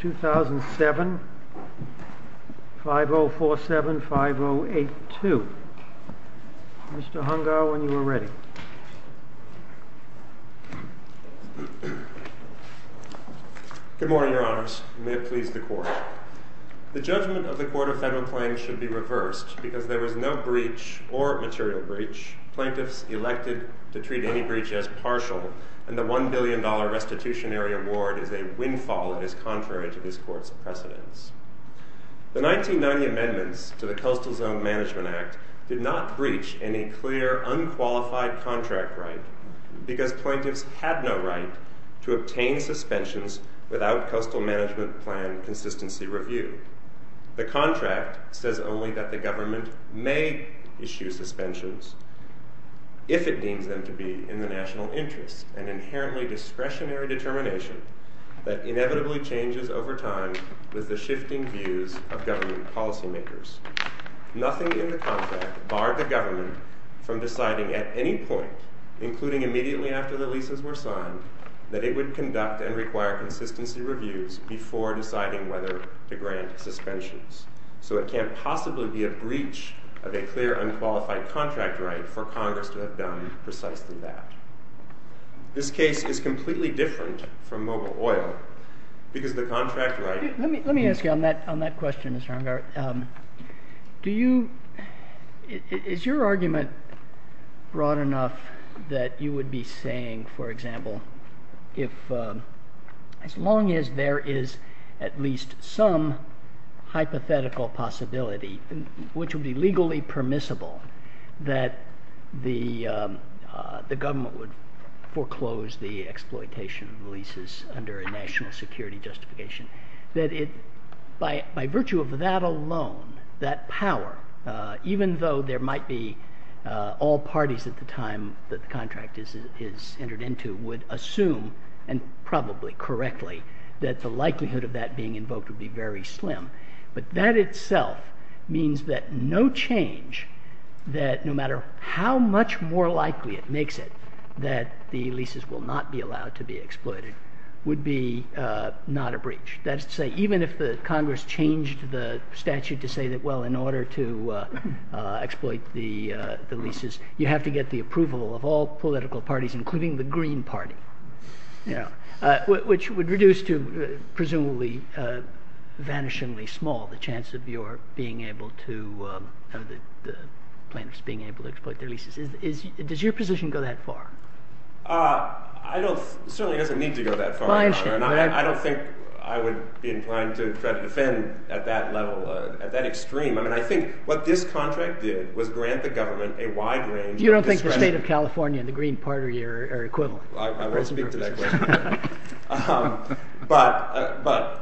2007, 5047, 5082. Mr. Hungar, when you are ready. Good morning, Your Honors. May it please the Court. The judgment of the Court of Federal Claims should be reversed because there was no breach or material breach. Plaintiffs elected to treat any breach as partial, and the $1 billion restitutionary award is a windfall that is contrary to this Court's precedence. The 1990 amendments to the Coastal Zone Management Act did not breach any clear, unqualified contract right, because plaintiffs had no right to obtain suspensions without Coastal Management Plan consistency review. The contract says only that the government may issue suspensions if it deems them to be in the national interest, an inherently discretionary determination that inevitably changes over time with the shifting views of government policymakers. Nothing in the contract barred the government from deciding at any point, including immediately after the leases were signed, that it would conduct and require consistency reviews before deciding whether to grant suspensions. So it can't possibly be a breach of a clear, unqualified contract right for Congress to have done precisely that. This case is completely different from mobile oil because the contract right... Let me ask you on that question, Mr. Hungar. Is your argument broad enough that you would be saying, for example, as long as there is at least some hypothetical possibility, which would be legally permissible, that the government would foreclose the exploitation of leases under a national security justification, that by virtue of that alone, that power, even though there might be all parties at the time that the contract is entered into, would assume, and probably correctly, that the likelihood of that being invoked would be very slim. But that itself means that no change, that no matter how much more likely it makes it that the leases will not be allowed to be exploited, would be not a breach. That is to say, even if the Congress changed the statute to say that, well, in order to exploit the leases, you have to get the approval of all political parties, including the Green Party, which would reduce to presumably vanishingly small the chance of the plaintiffs being able to exploit their leases. Does your position go that far? It certainly doesn't need to go that far. I understand. I don't think I would be inclined to try to defend at that level, at that extreme. I mean, I think what this contract did was grant the government a wide range of discretion. You don't think the state of California and the Green Party are equivalent? I won't speak to that question. But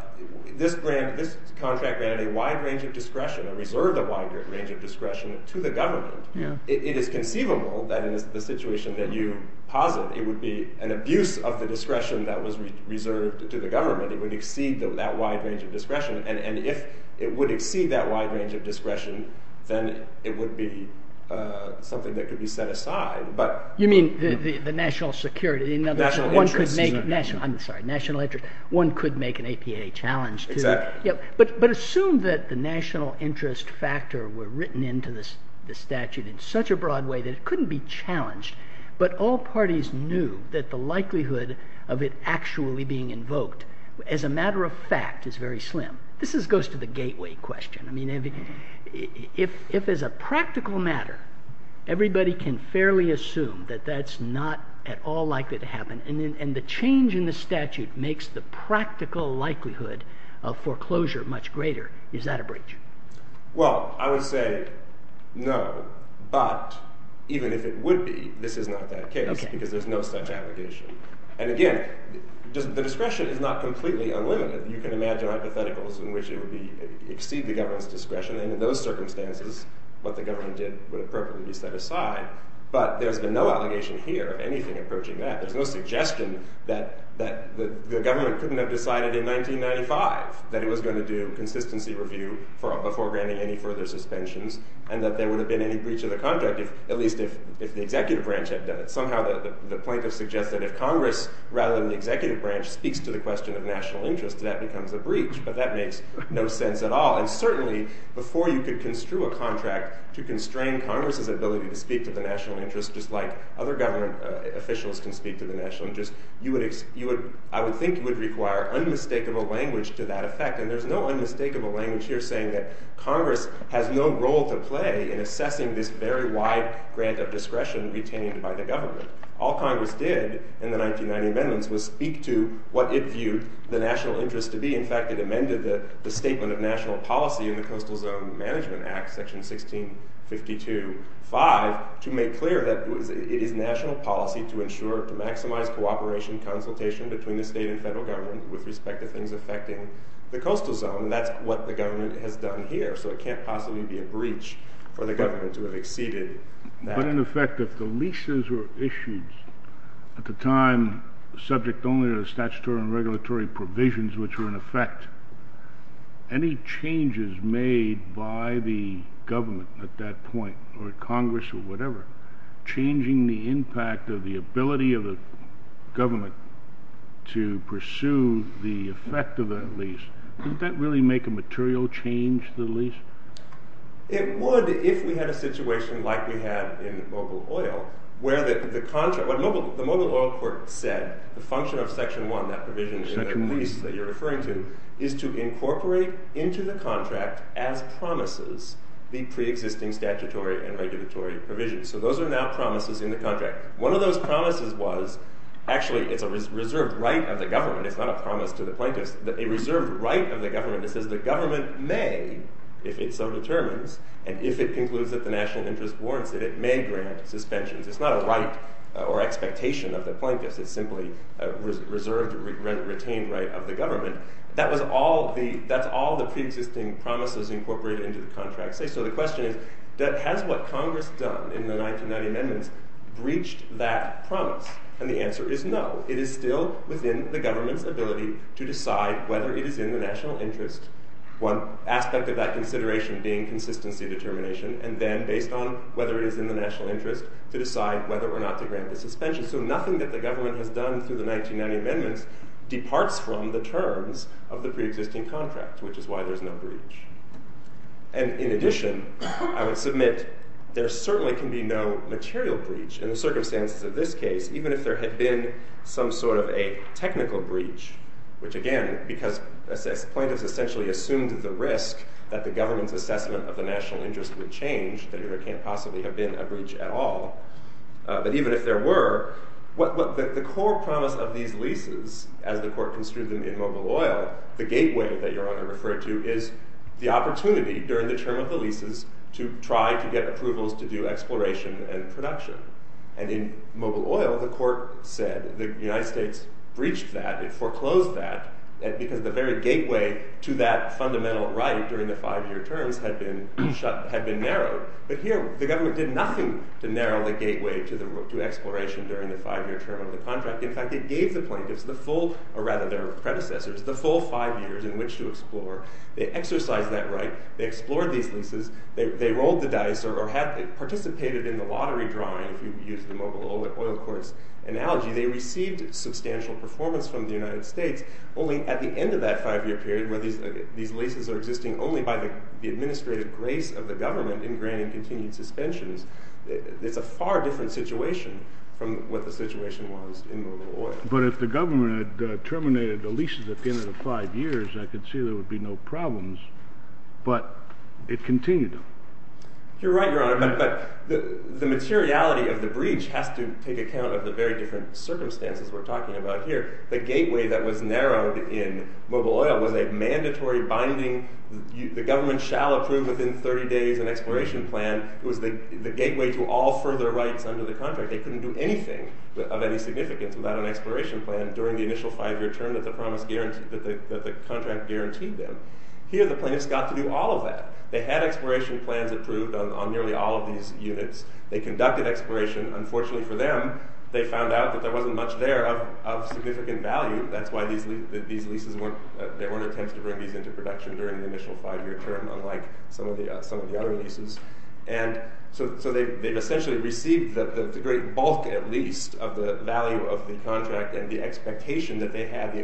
this contract granted a wide range of discretion, a reserved wide range of discretion to the government. It is conceivable that in the situation that you posit, it would be an abuse of the discretion that was reserved to the government. It would exceed that wide range of discretion. And if it would exceed that wide range of discretion, then it would be something that could be set aside. You mean the national security? National interest. I'm sorry, national interest. One could make an APA challenge to it. Exactly. But assume that the national interest factor were written into the statute in such a broad way that it couldn't be challenged, but all parties knew that the likelihood of it actually being invoked as a matter of fact is very slim. This goes to the gateway question. I mean, if as a practical matter, everybody can fairly assume that that's not at all likely to happen, and the change in the statute makes the practical likelihood of foreclosure much greater, is that a breach? Well, I would say no, but even if it would be, this is not that case because there's no such allegation. And again, the discretion is not completely unlimited. You can imagine hypotheticals in which it would exceed the government's discretion. And in those circumstances, what the government did would appropriately be set aside. But there's been no allegation here of anything approaching that. There's no suggestion that the government couldn't have decided in 1995 that it was going to do consistency review before granting any further suspensions and that there would have been any breach of the contract, at least if the executive branch had done it. Somehow the plaintiff suggests that if Congress rather than the executive branch speaks to the question of national interest, that becomes a breach, but that makes no sense at all. And certainly, before you could construe a contract to constrain Congress's ability to speak to the national interest, just like other government officials can speak to the national interest, I would think you would require unmistakable language to that effect. And there's no unmistakable language here saying that Congress has no role to play in assessing this very wide grant of discretion retained by the government. All Congress did in the 1990 amendments was speak to what it viewed the national interest to be. In fact, it amended the statement of national policy in the Coastal Zone Management Act, Section 1652.5, to make clear that it is national policy to ensure to maximize cooperation consultation between the state and federal government with respect to things affecting the coastal zone. That's what the government has done here, so it can't possibly be a breach for the government to have exceeded that. In effect, if the leases were issued at the time, subject only to the statutory and regulatory provisions which were in effect, any changes made by the government at that point, or Congress, or whatever, changing the impact of the ability of the government to pursue the effect of that lease, did that really make a material change to the lease? It would if we had a situation like we had in Mobile Oil, where the Mobile Oil court said, the function of Section 1, that provision in the lease that you're referring to, is to incorporate into the contract, as promises, the pre-existing statutory and regulatory provisions. So those are now promises in the contract. One of those promises was, actually it's a reserved right of the government, it's not a promise to the plaintiffs, it's a reserved right of the government that says the government may, if it so determines, and if it concludes that the national interest warrants it, it may grant suspensions. It's not a right or expectation of the plaintiffs, it's simply a reserved retained right of the government. That's all the pre-existing promises incorporated into the contract say. So the question is, has what Congress done in the 1990 amendments breached that promise? And the answer is no. It is still within the government's ability to decide whether it is in the national interest, one aspect of that consideration being consistency determination, and then based on whether it is in the national interest, to decide whether or not to grant the suspension. So nothing that the government has done through the 1990 amendments departs from the terms of the pre-existing contract, which is why there's no breach. And in addition, I would submit, there certainly can be no material breach, in the circumstances of this case, even if there had been some sort of a technical breach, which again, because plaintiffs essentially assumed the risk that the government's assessment of the national interest would change, there can't possibly have been a breach at all. But even if there were, the core promise of these leases, as the court construed them in Mobile Oil, the gateway that Your Honor referred to, is the opportunity during the term of the leases to try to get approvals to do exploration and production. And in Mobile Oil, the court said the United States breached that, it foreclosed that, because the very gateway to that fundamental right during the five-year terms had been narrowed. But here, the government did nothing to narrow the gateway to exploration during the five-year term of the contract. In fact, it gave the plaintiffs the full, or rather their predecessors, the full five years in which to explore. They exercised that right. They explored these leases. They rolled the dice or participated in the lottery drawing, if you use the Mobile Oil Court's analogy. They received substantial performance from the United States. Only at the end of that five-year period, where these leases are existing only by the administrative grace of the government in granting continued suspensions, it's a far different situation from what the situation was in Mobile Oil. But if the government had terminated the leases at the end of the five years, I could see there would be no problems, but it continued them. You're right, Your Honor, but the materiality of the breach has to take account of the very different circumstances we're talking about here. The gateway that was narrowed in Mobile Oil was a mandatory binding, the government shall approve within 30 days an exploration plan. It was the gateway to all further rights under the contract. They couldn't do anything of any significance without an exploration plan during the initial five-year term that the contract guaranteed them. Here the plaintiffs got to do all of that. They had exploration plans approved on nearly all of these units. They conducted exploration. Unfortunately for them, they found out that there wasn't much there of significant value. That's why there weren't attempts to bring these into production during the initial five-year term, unlike some of the other leases. So they've essentially received the great bulk, at least, of the value of the contract and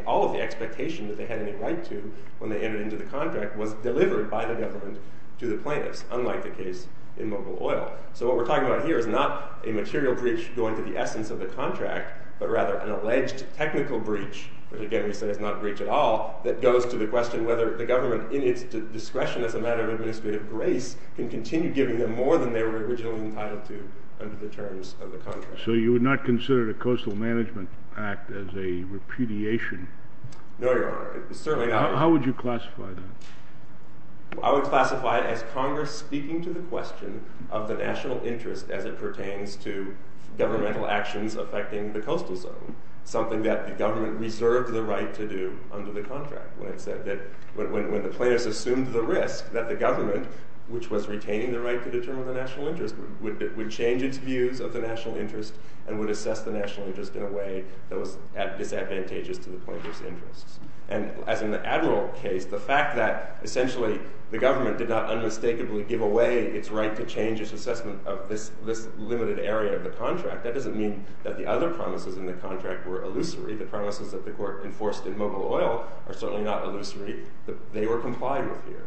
all of the expectation that they had any right to when they entered into the contract was delivered by the government to the plaintiffs, unlike the case in Mobile Oil. So what we're talking about here is not a material breach going to the essence of the contract, but rather an alleged technical breach, which again we say is not a breach at all, that goes to the question whether the government, in its discretion as a matter of administrative grace, can continue giving them more than they were originally entitled to under the terms of the contract. So you would not consider the Coastal Management Act as a repudiation? No, Your Honor. Certainly not. How would you classify that? I would classify it as Congress speaking to the question of the national interest as it pertains to governmental actions affecting the coastal zone, something that the government reserved the right to do under the contract, when it said that when the plaintiffs assumed the risk that the government, which was retaining the right to determine the national interest, would change its views of the national interest and would assess the national interest in a way that was disadvantageous to the plaintiffs' interests. And as in the Admiral case, the fact that essentially the government did not unmistakably give away its right to change its assessment of this limited area of the contract, that doesn't mean that the other promises in the contract were illusory. The promises that the Court enforced in Mobile Oil are certainly not illusory. They were complied with here.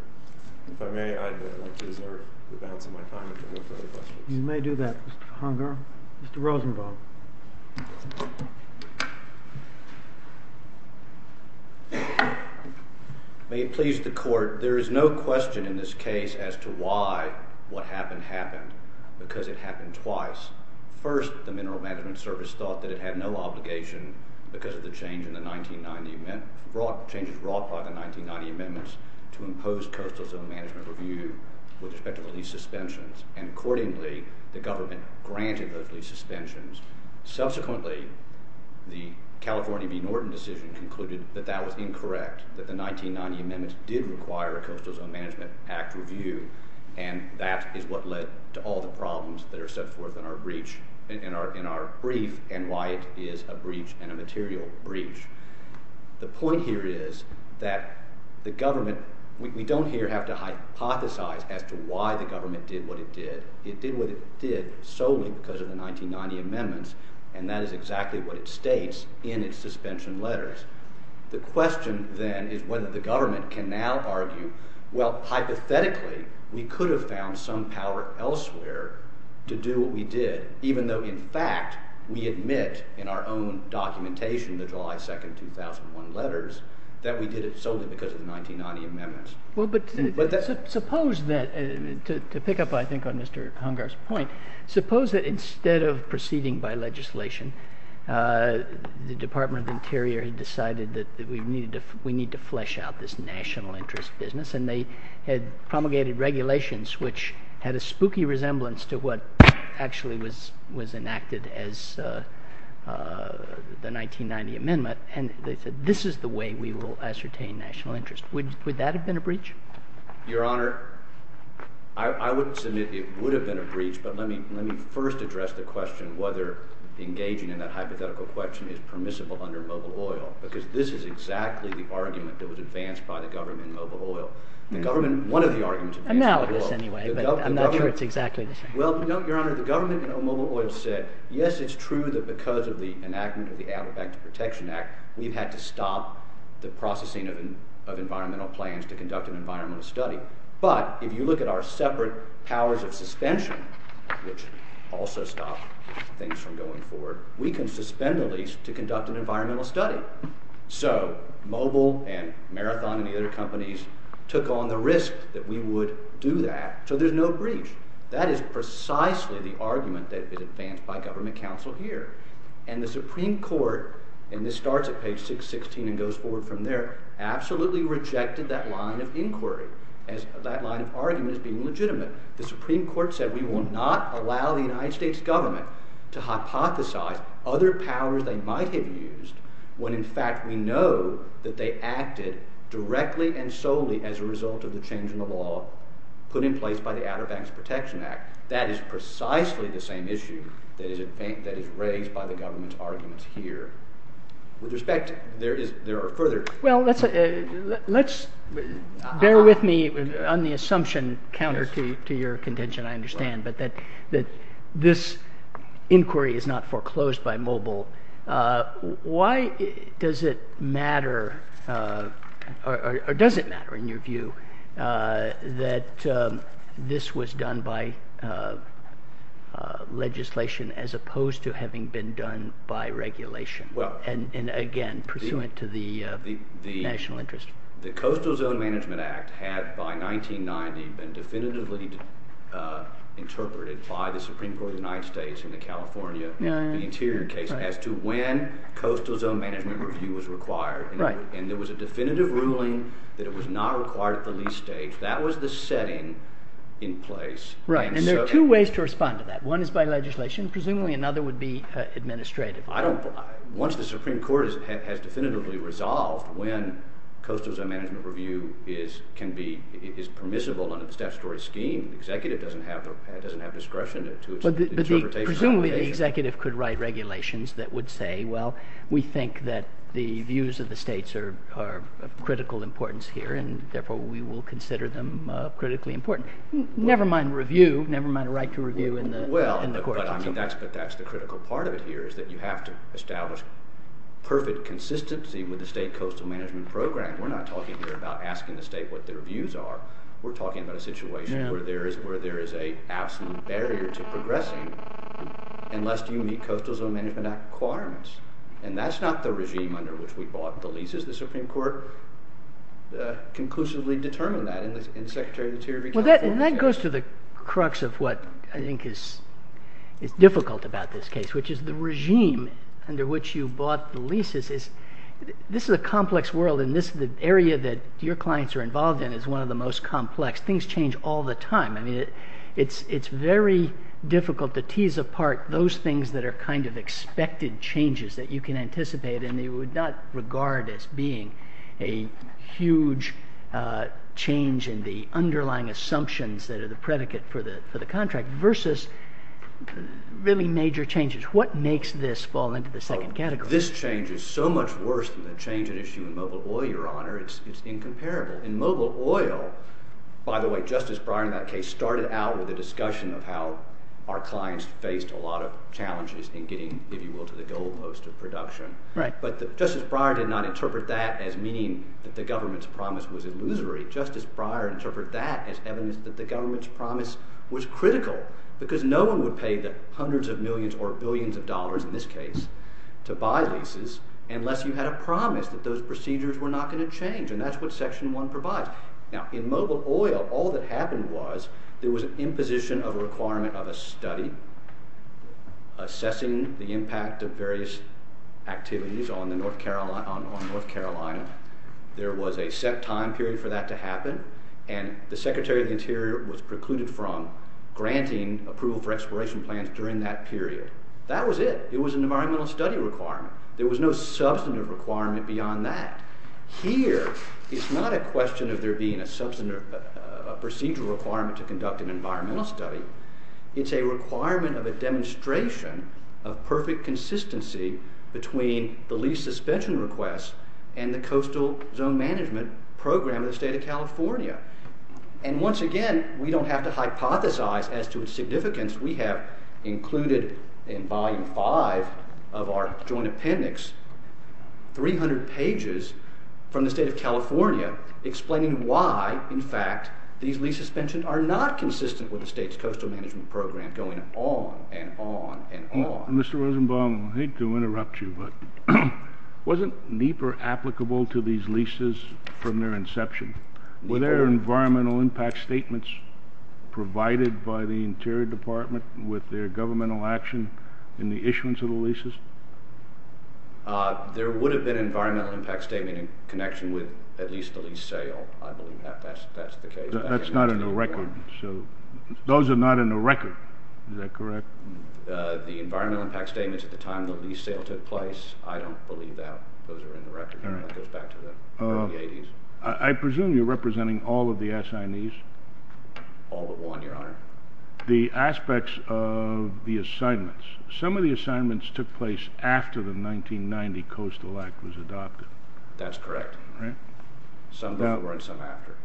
If I may, I'd like to reserve the balance of my time if there are no further questions. You may do that, Mr. Hunger. Mr. Rosenbaum. May it please the Court, there is no question in this case as to why what happened happened, because it happened twice. First, the Mineral Management Service thought that it had no obligation, because of the changes brought by the 1990 amendments, to impose coastal zone management review with respect to the lease suspensions. And accordingly, the government granted those lease suspensions. Subsequently, the California v. Norton decision concluded that that was incorrect, that the 1990 amendments did require a Coastal Zone Management Act review, and that is what led to all the problems that are set forth in our brief and why it is a breach and a material breach. The point here is that the government, we don't here have to hypothesize as to why the government did what it did. It did what it did solely because of the 1990 amendments, and that is exactly what it states in its suspension letters. The question then is whether the government can now argue, well, hypothetically, we could have found some power elsewhere to do what we did, even though, in fact, we admit in our own documentation, the July 2, 2001 letters, that we did it solely because of the 1990 amendments. Well, but suppose that, to pick up, I think, on Mr. Hungar's point, suppose that instead of proceeding by legislation, the Department of Interior had decided that we need to flesh out this national interest business, and they had promulgated regulations which had a spooky resemblance to what actually was enacted as the 1990 amendment, and they said this is the way we will ascertain national interest. Would that have been a breach? Your Honor, I would submit it would have been a breach, but let me first address the question whether engaging in that hypothetical question is permissible under mobile oil, because this is exactly the argument that was advanced by the government in mobile oil. I'm not sure it's exactly the same. Well, Your Honor, the government in mobile oil said, yes, it's true that because of the enactment of the Animal Back to Protection Act, we've had to stop the processing of environmental plans to conduct an environmental study, but if you look at our separate powers of suspension, which also stop things from going forward, we can suspend the lease to conduct an environmental study. So mobile and Marathon and the other companies took on the risk that we would do that, so there's no breach. That is precisely the argument that was advanced by government counsel here, and the Supreme Court, and this starts at page 616 and goes forward from there, absolutely rejected that line of inquiry, that line of argument as being legitimate. The Supreme Court said we will not allow the United States government to hypothesize other powers they might have used when in fact we know that they acted directly and solely as a result of the change in the law put in place by the Outer Banks Protection Act. That is precisely the same issue that is raised by the government's arguments here. With respect, there are further... Well, let's bear with me on the assumption, counter to your contention, I understand, but that this inquiry is not foreclosed by mobile. Why does it matter, or does it matter in your view, that this was done by legislation as opposed to having been done by regulation? And again, pursuant to the national interest. The Coastal Zone Management Act had, by 1990, been definitively interpreted by the Supreme Court of the United States in the California Interior case as to when coastal zone management review was required. And there was a definitive ruling that it was not required at the lease stage. That was the setting in place. Right, and there are two ways to respond to that. One is by legislation. Presumably another would be administrative. Once the Supreme Court has definitively resolved when coastal zone management review is permissible under the statutory scheme, the executive doesn't have discretion to interpret it. Presumably the executive could write regulations that would say, well, we think that the views of the states are of critical importance here, and therefore we will consider them critically important. Never mind review, never mind a right to review in the court. But that's the critical part of it here, is that you have to establish perfect consistency with the state coastal management program. We're not talking here about asking the state what their views are. We're talking about a situation where there is an absolute barrier to progressing unless you meet Coastal Zone Management Act requirements. And that's not the regime under which we bought the leases. Well, that goes to the crux of what I think is difficult about this case, which is the regime under which you bought the leases. This is a complex world, and the area that your clients are involved in is one of the most complex. Things change all the time. I mean, it's very difficult to tease apart those things that are kind of expected changes that you can anticipate and you would not regard as being a huge change in the underlying assumptions that are the predicate for the contract versus really major changes. What makes this fall into the second category? This change is so much worse than the change at issue in mobile oil, Your Honor. It's incomparable. In mobile oil, by the way, Justice Breyer in that case started out with a discussion of how our clients faced a lot of challenges in getting, if you will, to the goal post of production. But Justice Breyer did not interpret that as meaning that the government's promise was illusory. Justice Breyer interpreted that as evidence that the government's promise was critical because no one would pay the hundreds of millions or billions of dollars in this case to buy leases unless you had a promise that those procedures were not going to change, and that's what Section 1 provides. Now, in mobile oil, all that happened was there was an imposition of a requirement of a study assessing the impact of various activities on North Carolina. There was a set time period for that to happen, and the Secretary of the Interior was precluded from granting approval for exploration plans during that period. That was it. It was an environmental study requirement. There was no substantive requirement beyond that. Here, it's not a question of there being a procedural requirement to conduct an environmental study. It's a requirement of a demonstration of perfect consistency between the lease suspension request and the coastal zone management program of the state of California. And once again, we don't have to hypothesize as to its significance. We have included in Volume 5 of our joint appendix 300 pages from the state of California explaining why, in fact, these lease suspensions are not consistent with the state's coastal management program going on and on and on. Mr. Rosenbaum, I hate to interrupt you, but wasn't NEPA applicable to these leases from their inception? Were there environmental impact statements provided by the Interior Department with their governmental action in the issuance of the leases? There would have been an environmental impact statement in connection with at least the lease sale. I believe that's the case. That's not in the record. Those are not in the record. Is that correct? The environmental impact statements at the time the lease sale took place, I don't believe that. Those are in the record. That goes back to the early 80s. I presume you're representing all of the assignees? All but one, Your Honor. The aspects of the assignments. Some of the assignments took place after the 1990 Coastal Act was adopted. That's correct. Some before and some after.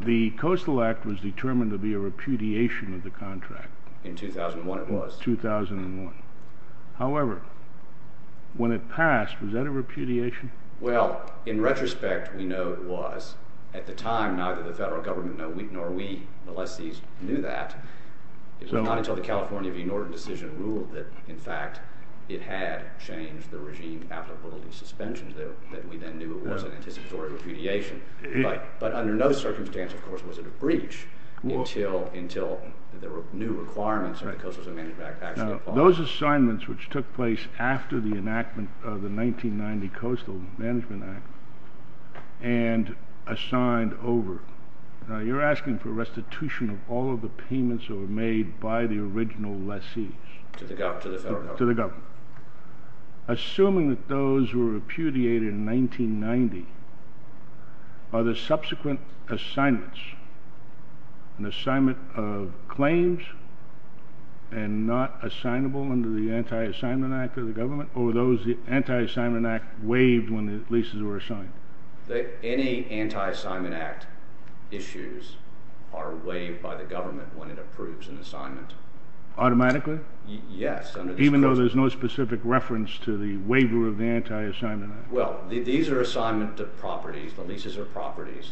The Coastal Act was determined to be a repudiation of the contract. In 2001 it was. 2001. However, when it passed, was that a repudiation? Well, in retrospect, we know it was. At the time, neither the federal government nor we, the lessees, knew that. It was not until the California v. Norton decision ruled that, in fact, it had changed the regime applicable to these suspensions that we then knew it was an anticipatory repudiation. But under no circumstance, of course, was it a breach until the new requirements of the Coastal Management Act actually followed. Those assignments which took place after the enactment of the 1990 Coastal Management Act and assigned over, you're asking for restitution of all of the payments that were made by the original lessees. To the government. To the government. Assuming that those were repudiated in 1990, are the subsequent assignments an assignment of claims and not assignable under the Anti-Assignment Act of the government, or were those the Anti-Assignment Act waived when the lessees were assigned? Any Anti-Assignment Act issues are waived by the government when it approves an assignment. Automatically? Yes. Even though there's no specific reference to the waiver of the Anti-Assignment Act? Well, these are assignment to properties. The leases are properties.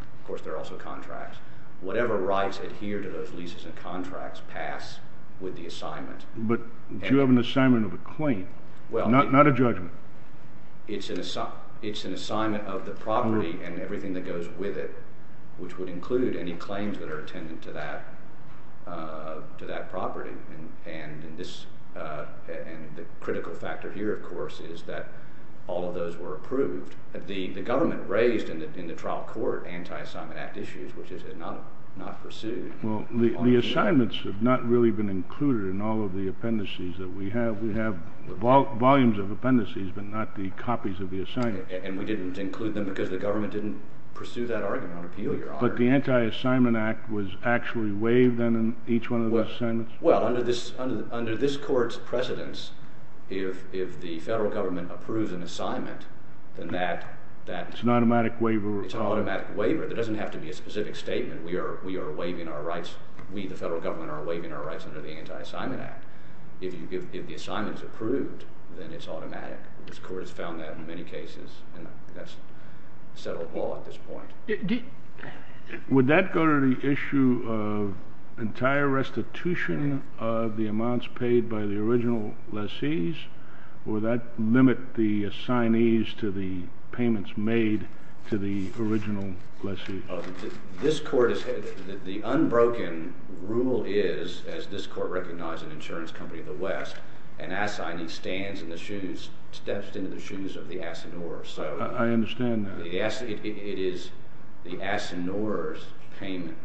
Of course, they're also contracts. Whatever rights adhere to those leases and contracts pass with the assignment. But you have an assignment of a claim, not a judgment. It's an assignment of the property and everything that goes with it, which would include any claims that are attendant to that property. And the critical factor here, of course, is that all of those were approved. The government raised in the trial court Anti-Assignment Act issues, which it had not pursued. Well, the assignments have not really been included in all of the appendices that we have. We have volumes of appendices, but not the copies of the assignments. And we didn't include them because the government didn't pursue that argument on appeal, Your Honor. But the Anti-Assignment Act was actually waived then in each one of those assignments? Well, under this court's precedence, if the federal government approves an assignment, then that— It's an automatic waiver? It's an automatic waiver. There doesn't have to be a specific statement. We are waiving our rights. We, the federal government, are waiving our rights under the Anti-Assignment Act. If the assignment is approved, then it's automatic. This court has found that in many cases, and that's settled law at this point. Would that go to the issue of entire restitution of the amounts paid by the original lessees? Or would that limit the assignees to the payments made to the original lessee? This court has—the unbroken rule is, as this court recognized in Insurance Company of the West, an assignee stands in the shoes—steps into the shoes of the assiduor. I understand that. It is the assiduor's payment.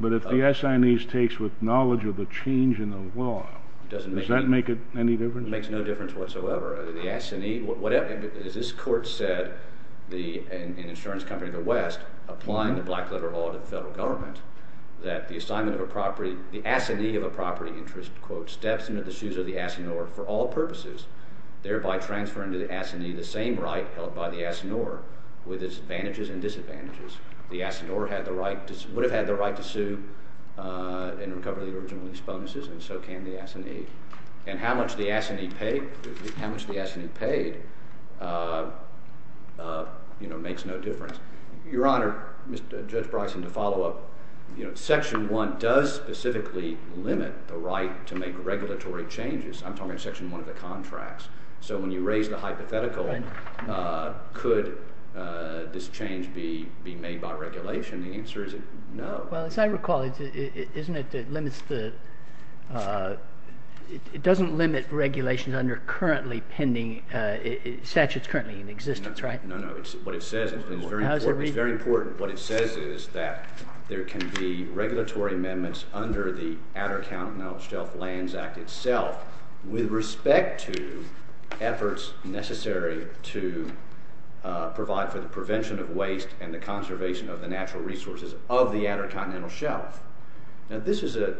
But if the assignee's takes with knowledge of the change in the law, does that make any difference? It makes no difference whatsoever. The assignee—as this court said, in Insurance Company of the West, applying the black letter law to the federal government, that the assignment of a property—the assignee of a property interest, quote, for all purposes, thereby transferring to the assignee the same right held by the assiduor with its advantages and disadvantages. The assiduor would have had the right to sue and recover the original lease bonuses, and so can the assignee. And how much the assignee paid makes no difference. Your Honor, Judge Bryson, to follow up, Section 1 does specifically limit the right to make regulatory changes. I'm talking about Section 1 of the contracts. So when you raise the hypothetical, could this change be made by regulation? The answer is no. Well, as I recall, isn't it that it limits the—it doesn't limit regulations under currently pending—statutes currently in existence, right? No, no. It's what it says. It's very important. It's very important. What it says is that there can be regulatory amendments under the Outer Continental Shelf Lands Act itself with respect to efforts necessary to provide for the prevention of waste and the conservation of the natural resources of the Outer Continental Shelf. Now, this is a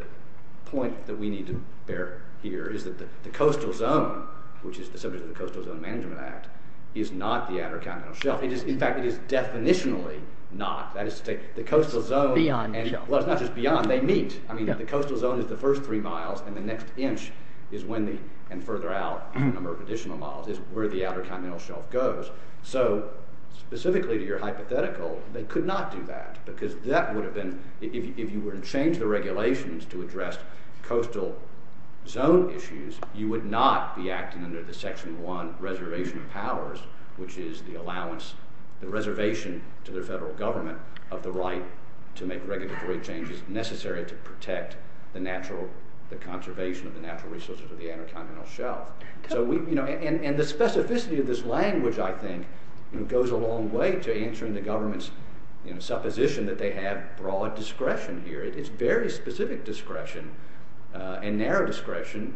point that we need to bear here, is that the coastal zone, which is the subject of the Coastal Zone Management Act, is not the Outer Continental Shelf. In fact, it is definitionally not. That is to say, the coastal zone— Beyond the shelf. Well, it's not just beyond. They meet. I mean, the coastal zone is the first three miles, and the next inch is when the—and further out a number of additional miles is where the Outer Continental Shelf goes. So specifically to your hypothetical, they could not do that because that would have been—if you were to change the regulations to address coastal zone issues, you would not be acting under the Section 1 Reservation of Powers, which is the reservation to the federal government of the right to make regulatory changes necessary to protect the conservation of the natural resources of the Outer Continental Shelf. And the specificity of this language, I think, goes a long way to answering the government's supposition that they have broad discretion here. It's very specific discretion and narrow discretion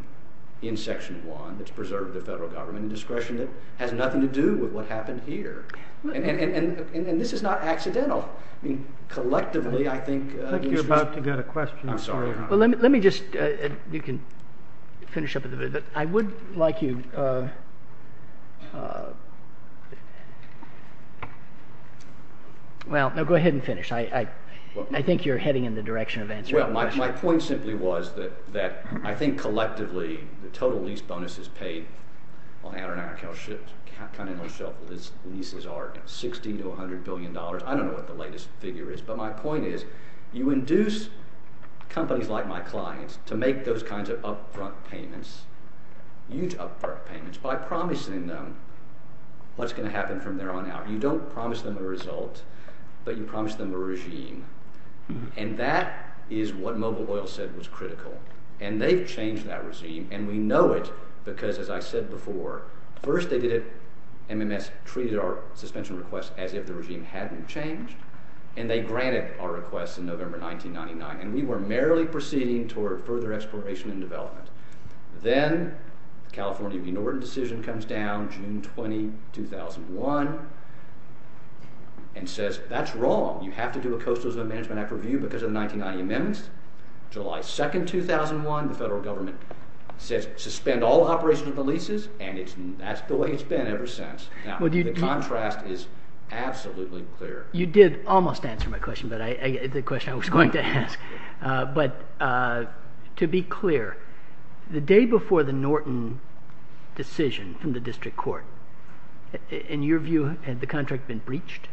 in Section 1 that's preserved the federal government and discretion that has nothing to do with what happened here. And this is not accidental. I mean, collectively, I think— I think you're about to get a question. I'm sorry. Well, let me just—you can finish up a little bit, but I would like you—well, no, go ahead and finish. I think you're heading in the direction of answering the question. Well, my point simply was that I think collectively the total lease bonuses paid on Outer Continental Shelf leases are $60 to $100 billion. I don't know what the latest figure is, but my point is you induce companies like my clients to make those kinds of upfront payments, huge upfront payments, by promising them what's going to happen from there on out. You don't promise them a result, but you promise them a regime, and that is what Mobile Oil said was critical. And they've changed that regime, and we know it because, as I said before, first they did it—MMS treated our suspension request as if the regime hadn't changed, and they granted our request in November 1999. And we were merely proceeding toward further exploration and development. Then the California Green Ordinance decision comes down June 20, 2001, and says that's wrong. You have to do a Coastal Zone Management Act review because of the 1990 amendments. July 2, 2001, the federal government says suspend all operations of the leases, and that's the way it's been ever since. Now, the contrast is absolutely clear. You did almost answer my question, the question I was going to ask, but to be clear, the day before the Norton decision from the district court, in your view, had the contract been breached?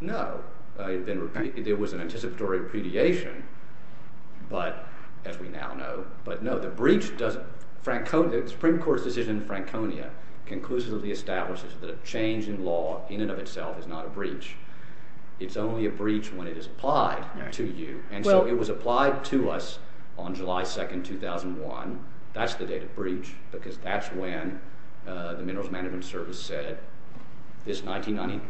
No. There was an anticipatory repudiation, as we now know, but no. The Supreme Court's decision in Franconia conclusively establishes that a change in law in and of itself is not a breach. It's only a breach when it is applied to you, and so it was applied to us on July 2, 2001. That's the date of breach because that's when the Minerals Management Service said this 1990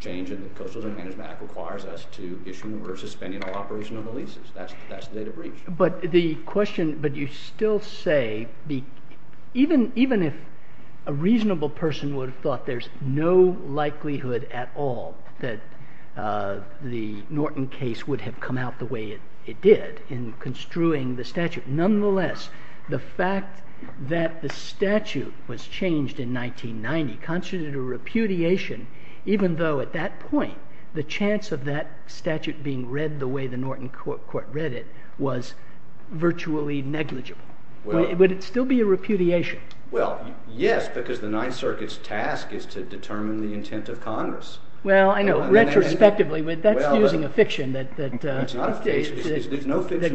change in the Coastal Zone Management Act requires us to issue or suspend all operation of the leases. That's the date of breach. But the question, but you still say even if a reasonable person would have thought there's no likelihood at all that the Norton case would have come out the way it did in construing the statute, nonetheless, the fact that the statute was changed in 1990 constituted a repudiation even though at that point the chance of that statute being read the way the Norton court read it was virtually negligible. Would it still be a repudiation? Well, yes, because the Ninth Circuit's task is to determine the intent of Congress. Well, I know, retrospectively, but that's using a fiction that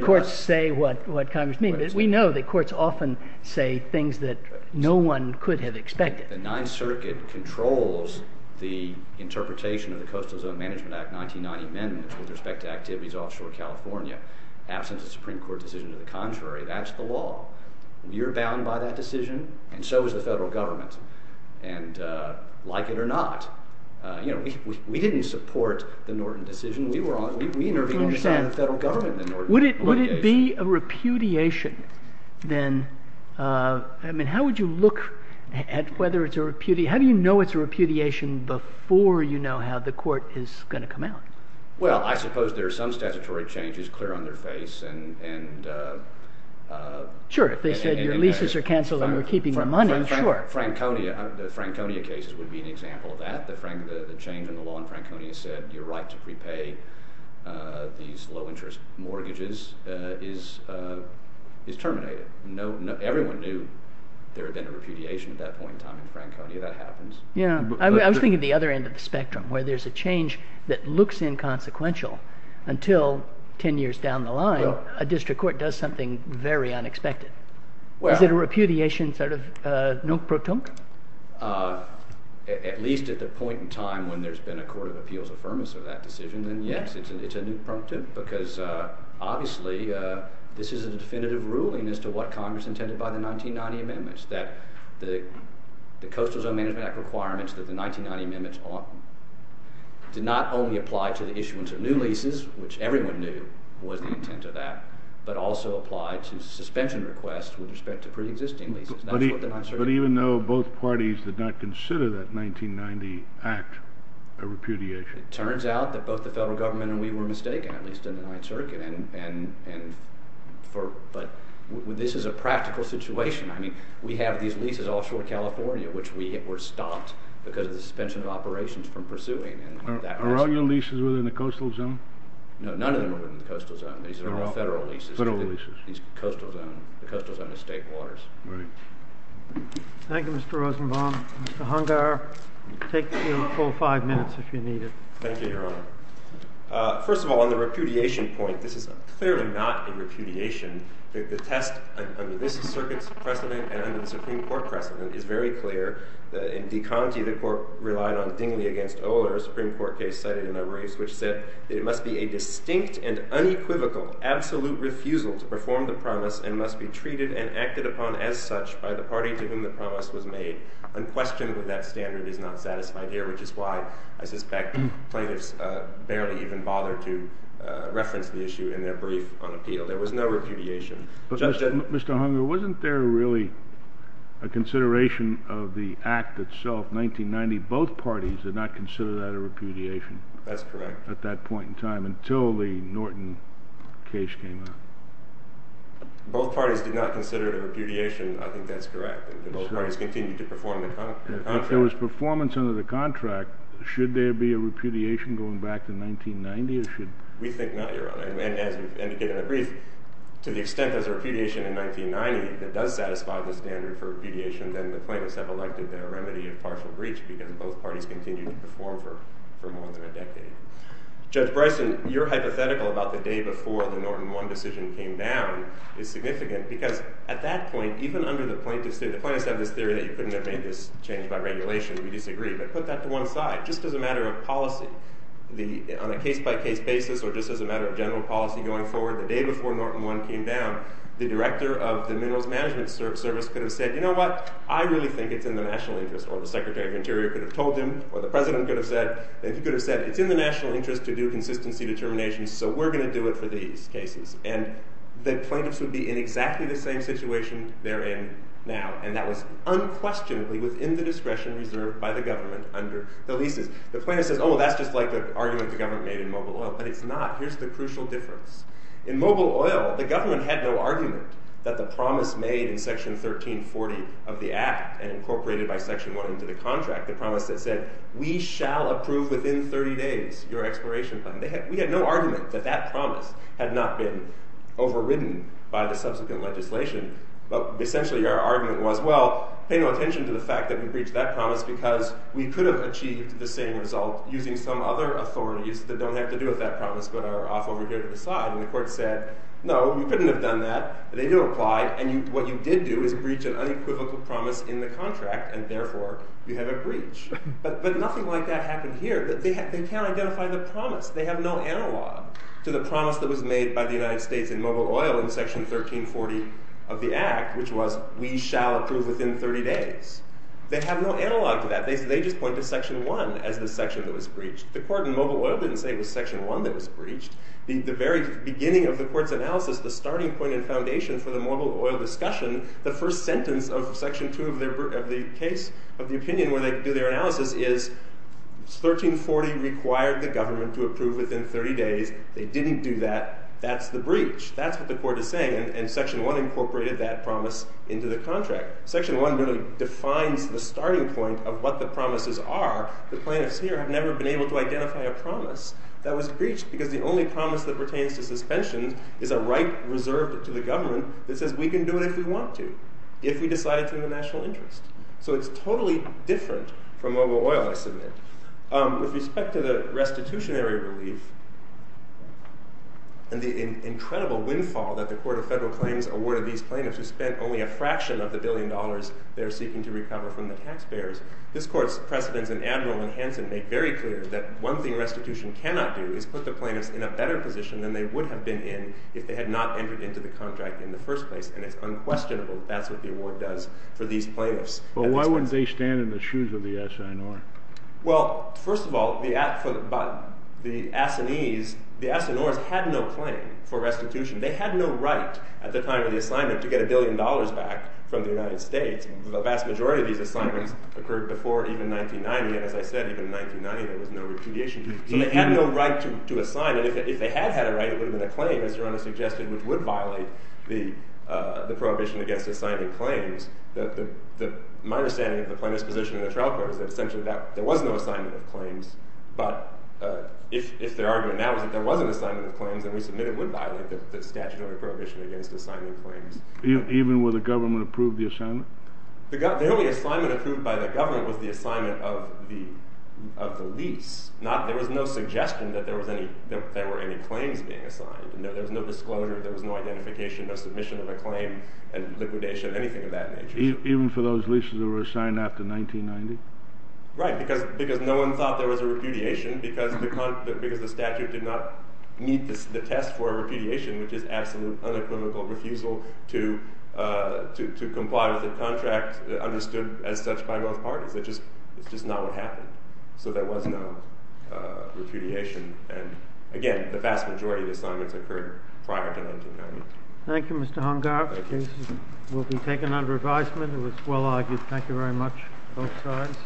courts say what Congress means. We know that courts often say things that no one could have expected. The Ninth Circuit controls the interpretation of the Coastal Zone Management Act 1990 amendments with respect to activities offshore California. Absent a Supreme Court decision to the contrary, that's the law. You're bound by that decision, and so is the federal government, and like it or not, we didn't support the Norton decision. We intervened on behalf of the federal government in the Norton repudiation. Would it be a repudiation then? I mean, how would you look at whether it's a repudiation? How do you know it's a repudiation before you know how the court is going to come out? Well, I suppose there are some statutory changes clear on their face. Sure, if they said your leases are canceled and we're keeping your money, sure. The Franconia cases would be an example of that. The change in the law in Franconia said your right to repay these low-interest mortgages is terminated. Everyone knew there had been a repudiation at that point in time in Franconia. That happens. I was thinking of the other end of the spectrum, where there's a change that looks inconsequential until 10 years down the line a district court does something very unexpected. Is it a repudiation sort of nunc pro tunc? At least at the point in time when there's been a court of appeals affirmance of that decision, then yes, it's a nunc prunctum, because obviously this is a definitive ruling as to what Congress intended by the 1990 amendments, that the Coastal Zone Management Act requirements of the 1990 amendments did not only apply to the issuance of new leases, which everyone knew was the intent of that, but also applied to suspension requests with respect to pre-existing leases. But even though both parties did not consider that 1990 Act a repudiation? It turns out that both the federal government and we were mistaken, at least in the Ninth Circuit, but this is a practical situation. I mean, we have these leases offshore of California, which were stopped because of the suspension of operations from pursuing. Are all your leases within the Coastal Zone? No, none of them are within the Coastal Zone. These are all federal leases. Federal leases. The Coastal Zone is state waters. Right. Thank you, Mr. Rosenbaum. Mr. Hungar, take your full five minutes if you need it. Thank you, Your Honor. First of all, on the repudiation point, this is clearly not a repudiation. The test—I mean, this Circuit's precedent and the Supreme Court precedent is very clear. In De Conti, the Court relied on Dingley v. Oler, a Supreme Court case cited in a race, which said that it must be a distinct and unequivocal absolute refusal to perform the promise and must be treated and acted upon as such by the party to whom the promise was made. Unquestionably, that standard is not satisfied here, which is why I suspect plaintiffs barely even bothered to reference the issue in their brief on appeal. There was no repudiation. But, Mr. Hungar, wasn't there really a consideration of the act itself, 1990? Both parties did not consider that a repudiation. That's correct. At that point in time, until the Norton case came out. Both parties did not consider it a repudiation. I think that's correct. Both parties continued to perform the contract. If there was performance under the contract, should there be a repudiation going back to 1990, or should—? We think not, Your Honor. And as you've indicated in the brief, to the extent there's a repudiation in 1990 that does satisfy the standard for repudiation, then the plaintiffs have elected their remedy of partial breach because both parties continued to perform for more than a decade. Judge Bryson, your hypothetical about the day before the Norton 1 decision came down is significant because at that point, even under the plaintiffs' theory— the plaintiffs have this theory that you couldn't have made this change by regulation. We disagree. But put that to one side. Just as a matter of policy, on a case-by-case basis, or just as a matter of general policy going forward, the day before Norton 1 came down, the director of the Minerals Management Service could have said, you know what, I really think it's in the national interest, or the Secretary of Interior could have told him, or the President could have said, it's in the national interest to do consistency determinations, so we're going to do it for these cases. And the plaintiffs would be in exactly the same situation they're in now, and that was unquestionably within the discretion reserved by the government under the leases. The plaintiff says, oh, that's just like the argument the government made in Mobile Oil, but it's not. Here's the crucial difference. In Mobile Oil, the government had no argument that the promise made in Section 1340 of the Act and incorporated by Section 1 into the contract, the promise that said, we shall approve within 30 days your exploration fund. We had no argument that that promise had not been overridden by the subsequent legislation, but essentially our argument was, well, pay no attention to the fact that we breached that promise because we could have achieved the same result using some other authorities that don't have to do with that promise but are off over here to the side. And the court said, no, we couldn't have done that. They do apply, and what you did do is breach an unequivocal promise in the contract, and therefore you have a breach. But nothing like that happened here. They can't identify the promise. They have no analog to the promise that was made by the United States in Mobile Oil in Section 1340 of the Act, which was, we shall approve within 30 days. They have no analog to that. They just point to Section 1 as the section that was breached. The court in Mobile Oil didn't say it was Section 1 that was breached. The very beginning of the court's analysis, the starting point and foundation for the Mobile Oil discussion, the first sentence of Section 2 of the case of the opinion where they do their analysis is 1340 required the government to approve within 30 days. They didn't do that. That's the breach. That's what the court is saying, and Section 1 incorporated that promise into the contract. Section 1 really defines the starting point of what the promises are. The plaintiffs here have never been able to identify a promise that was breached because the only promise that pertains to suspension is a right reserved to the government that says we can do it if we want to, if we decide it's in the national interest. So it's totally different from Mobile Oil, I submit. With respect to the restitutionary relief and the incredible windfall that the Court of Federal Claims awarded these plaintiffs who spent only a fraction of the billion dollars they're seeking to recover from the taxpayers, this court's precedents in Admiral and Hanson make very clear that one thing restitution cannot do is put the plaintiffs in a better position than they would have been in if they had not entered into the contract in the first place, and it's unquestionable that's what the award does for these plaintiffs. Well, why wouldn't they stand in the shoes of the assignor? Well, first of all, the assignees, the assignors had no claim for restitution. They had no right at the time of the assignment to get a billion dollars back from the United States. The vast majority of these assignments occurred before even 1990, and as I said, even in 1990 there was no repudiation. So they had no right to assign, and if they had had a right, it would have been a claim, as Your Honor suggested, which would violate the prohibition against assigning claims. My understanding of the plaintiff's position in the trial court is that essentially there was no assignment of claims, but if their argument now is that there was an assignment of claims, then we submit it would violate the statutory prohibition against assigning claims. Even with the government approved the assignment? The only assignment approved by the government was the assignment of the lease. There was no suggestion that there were any claims being assigned. There was no disclosure, there was no identification, no submission of a claim, and liquidation, anything of that nature. Even for those leases that were assigned after 1990? Right, because no one thought there was a repudiation because the statute did not meet the test for a repudiation, which is absolute, unequivocal refusal to comply with a contract understood as such by both parties. It's just not what happened. So there was no repudiation. Again, the vast majority of assignments occurred prior to 1990. Thank you, Mr. Hungar. This will be taken under advisement. It was well argued. Thank you very much, both sides.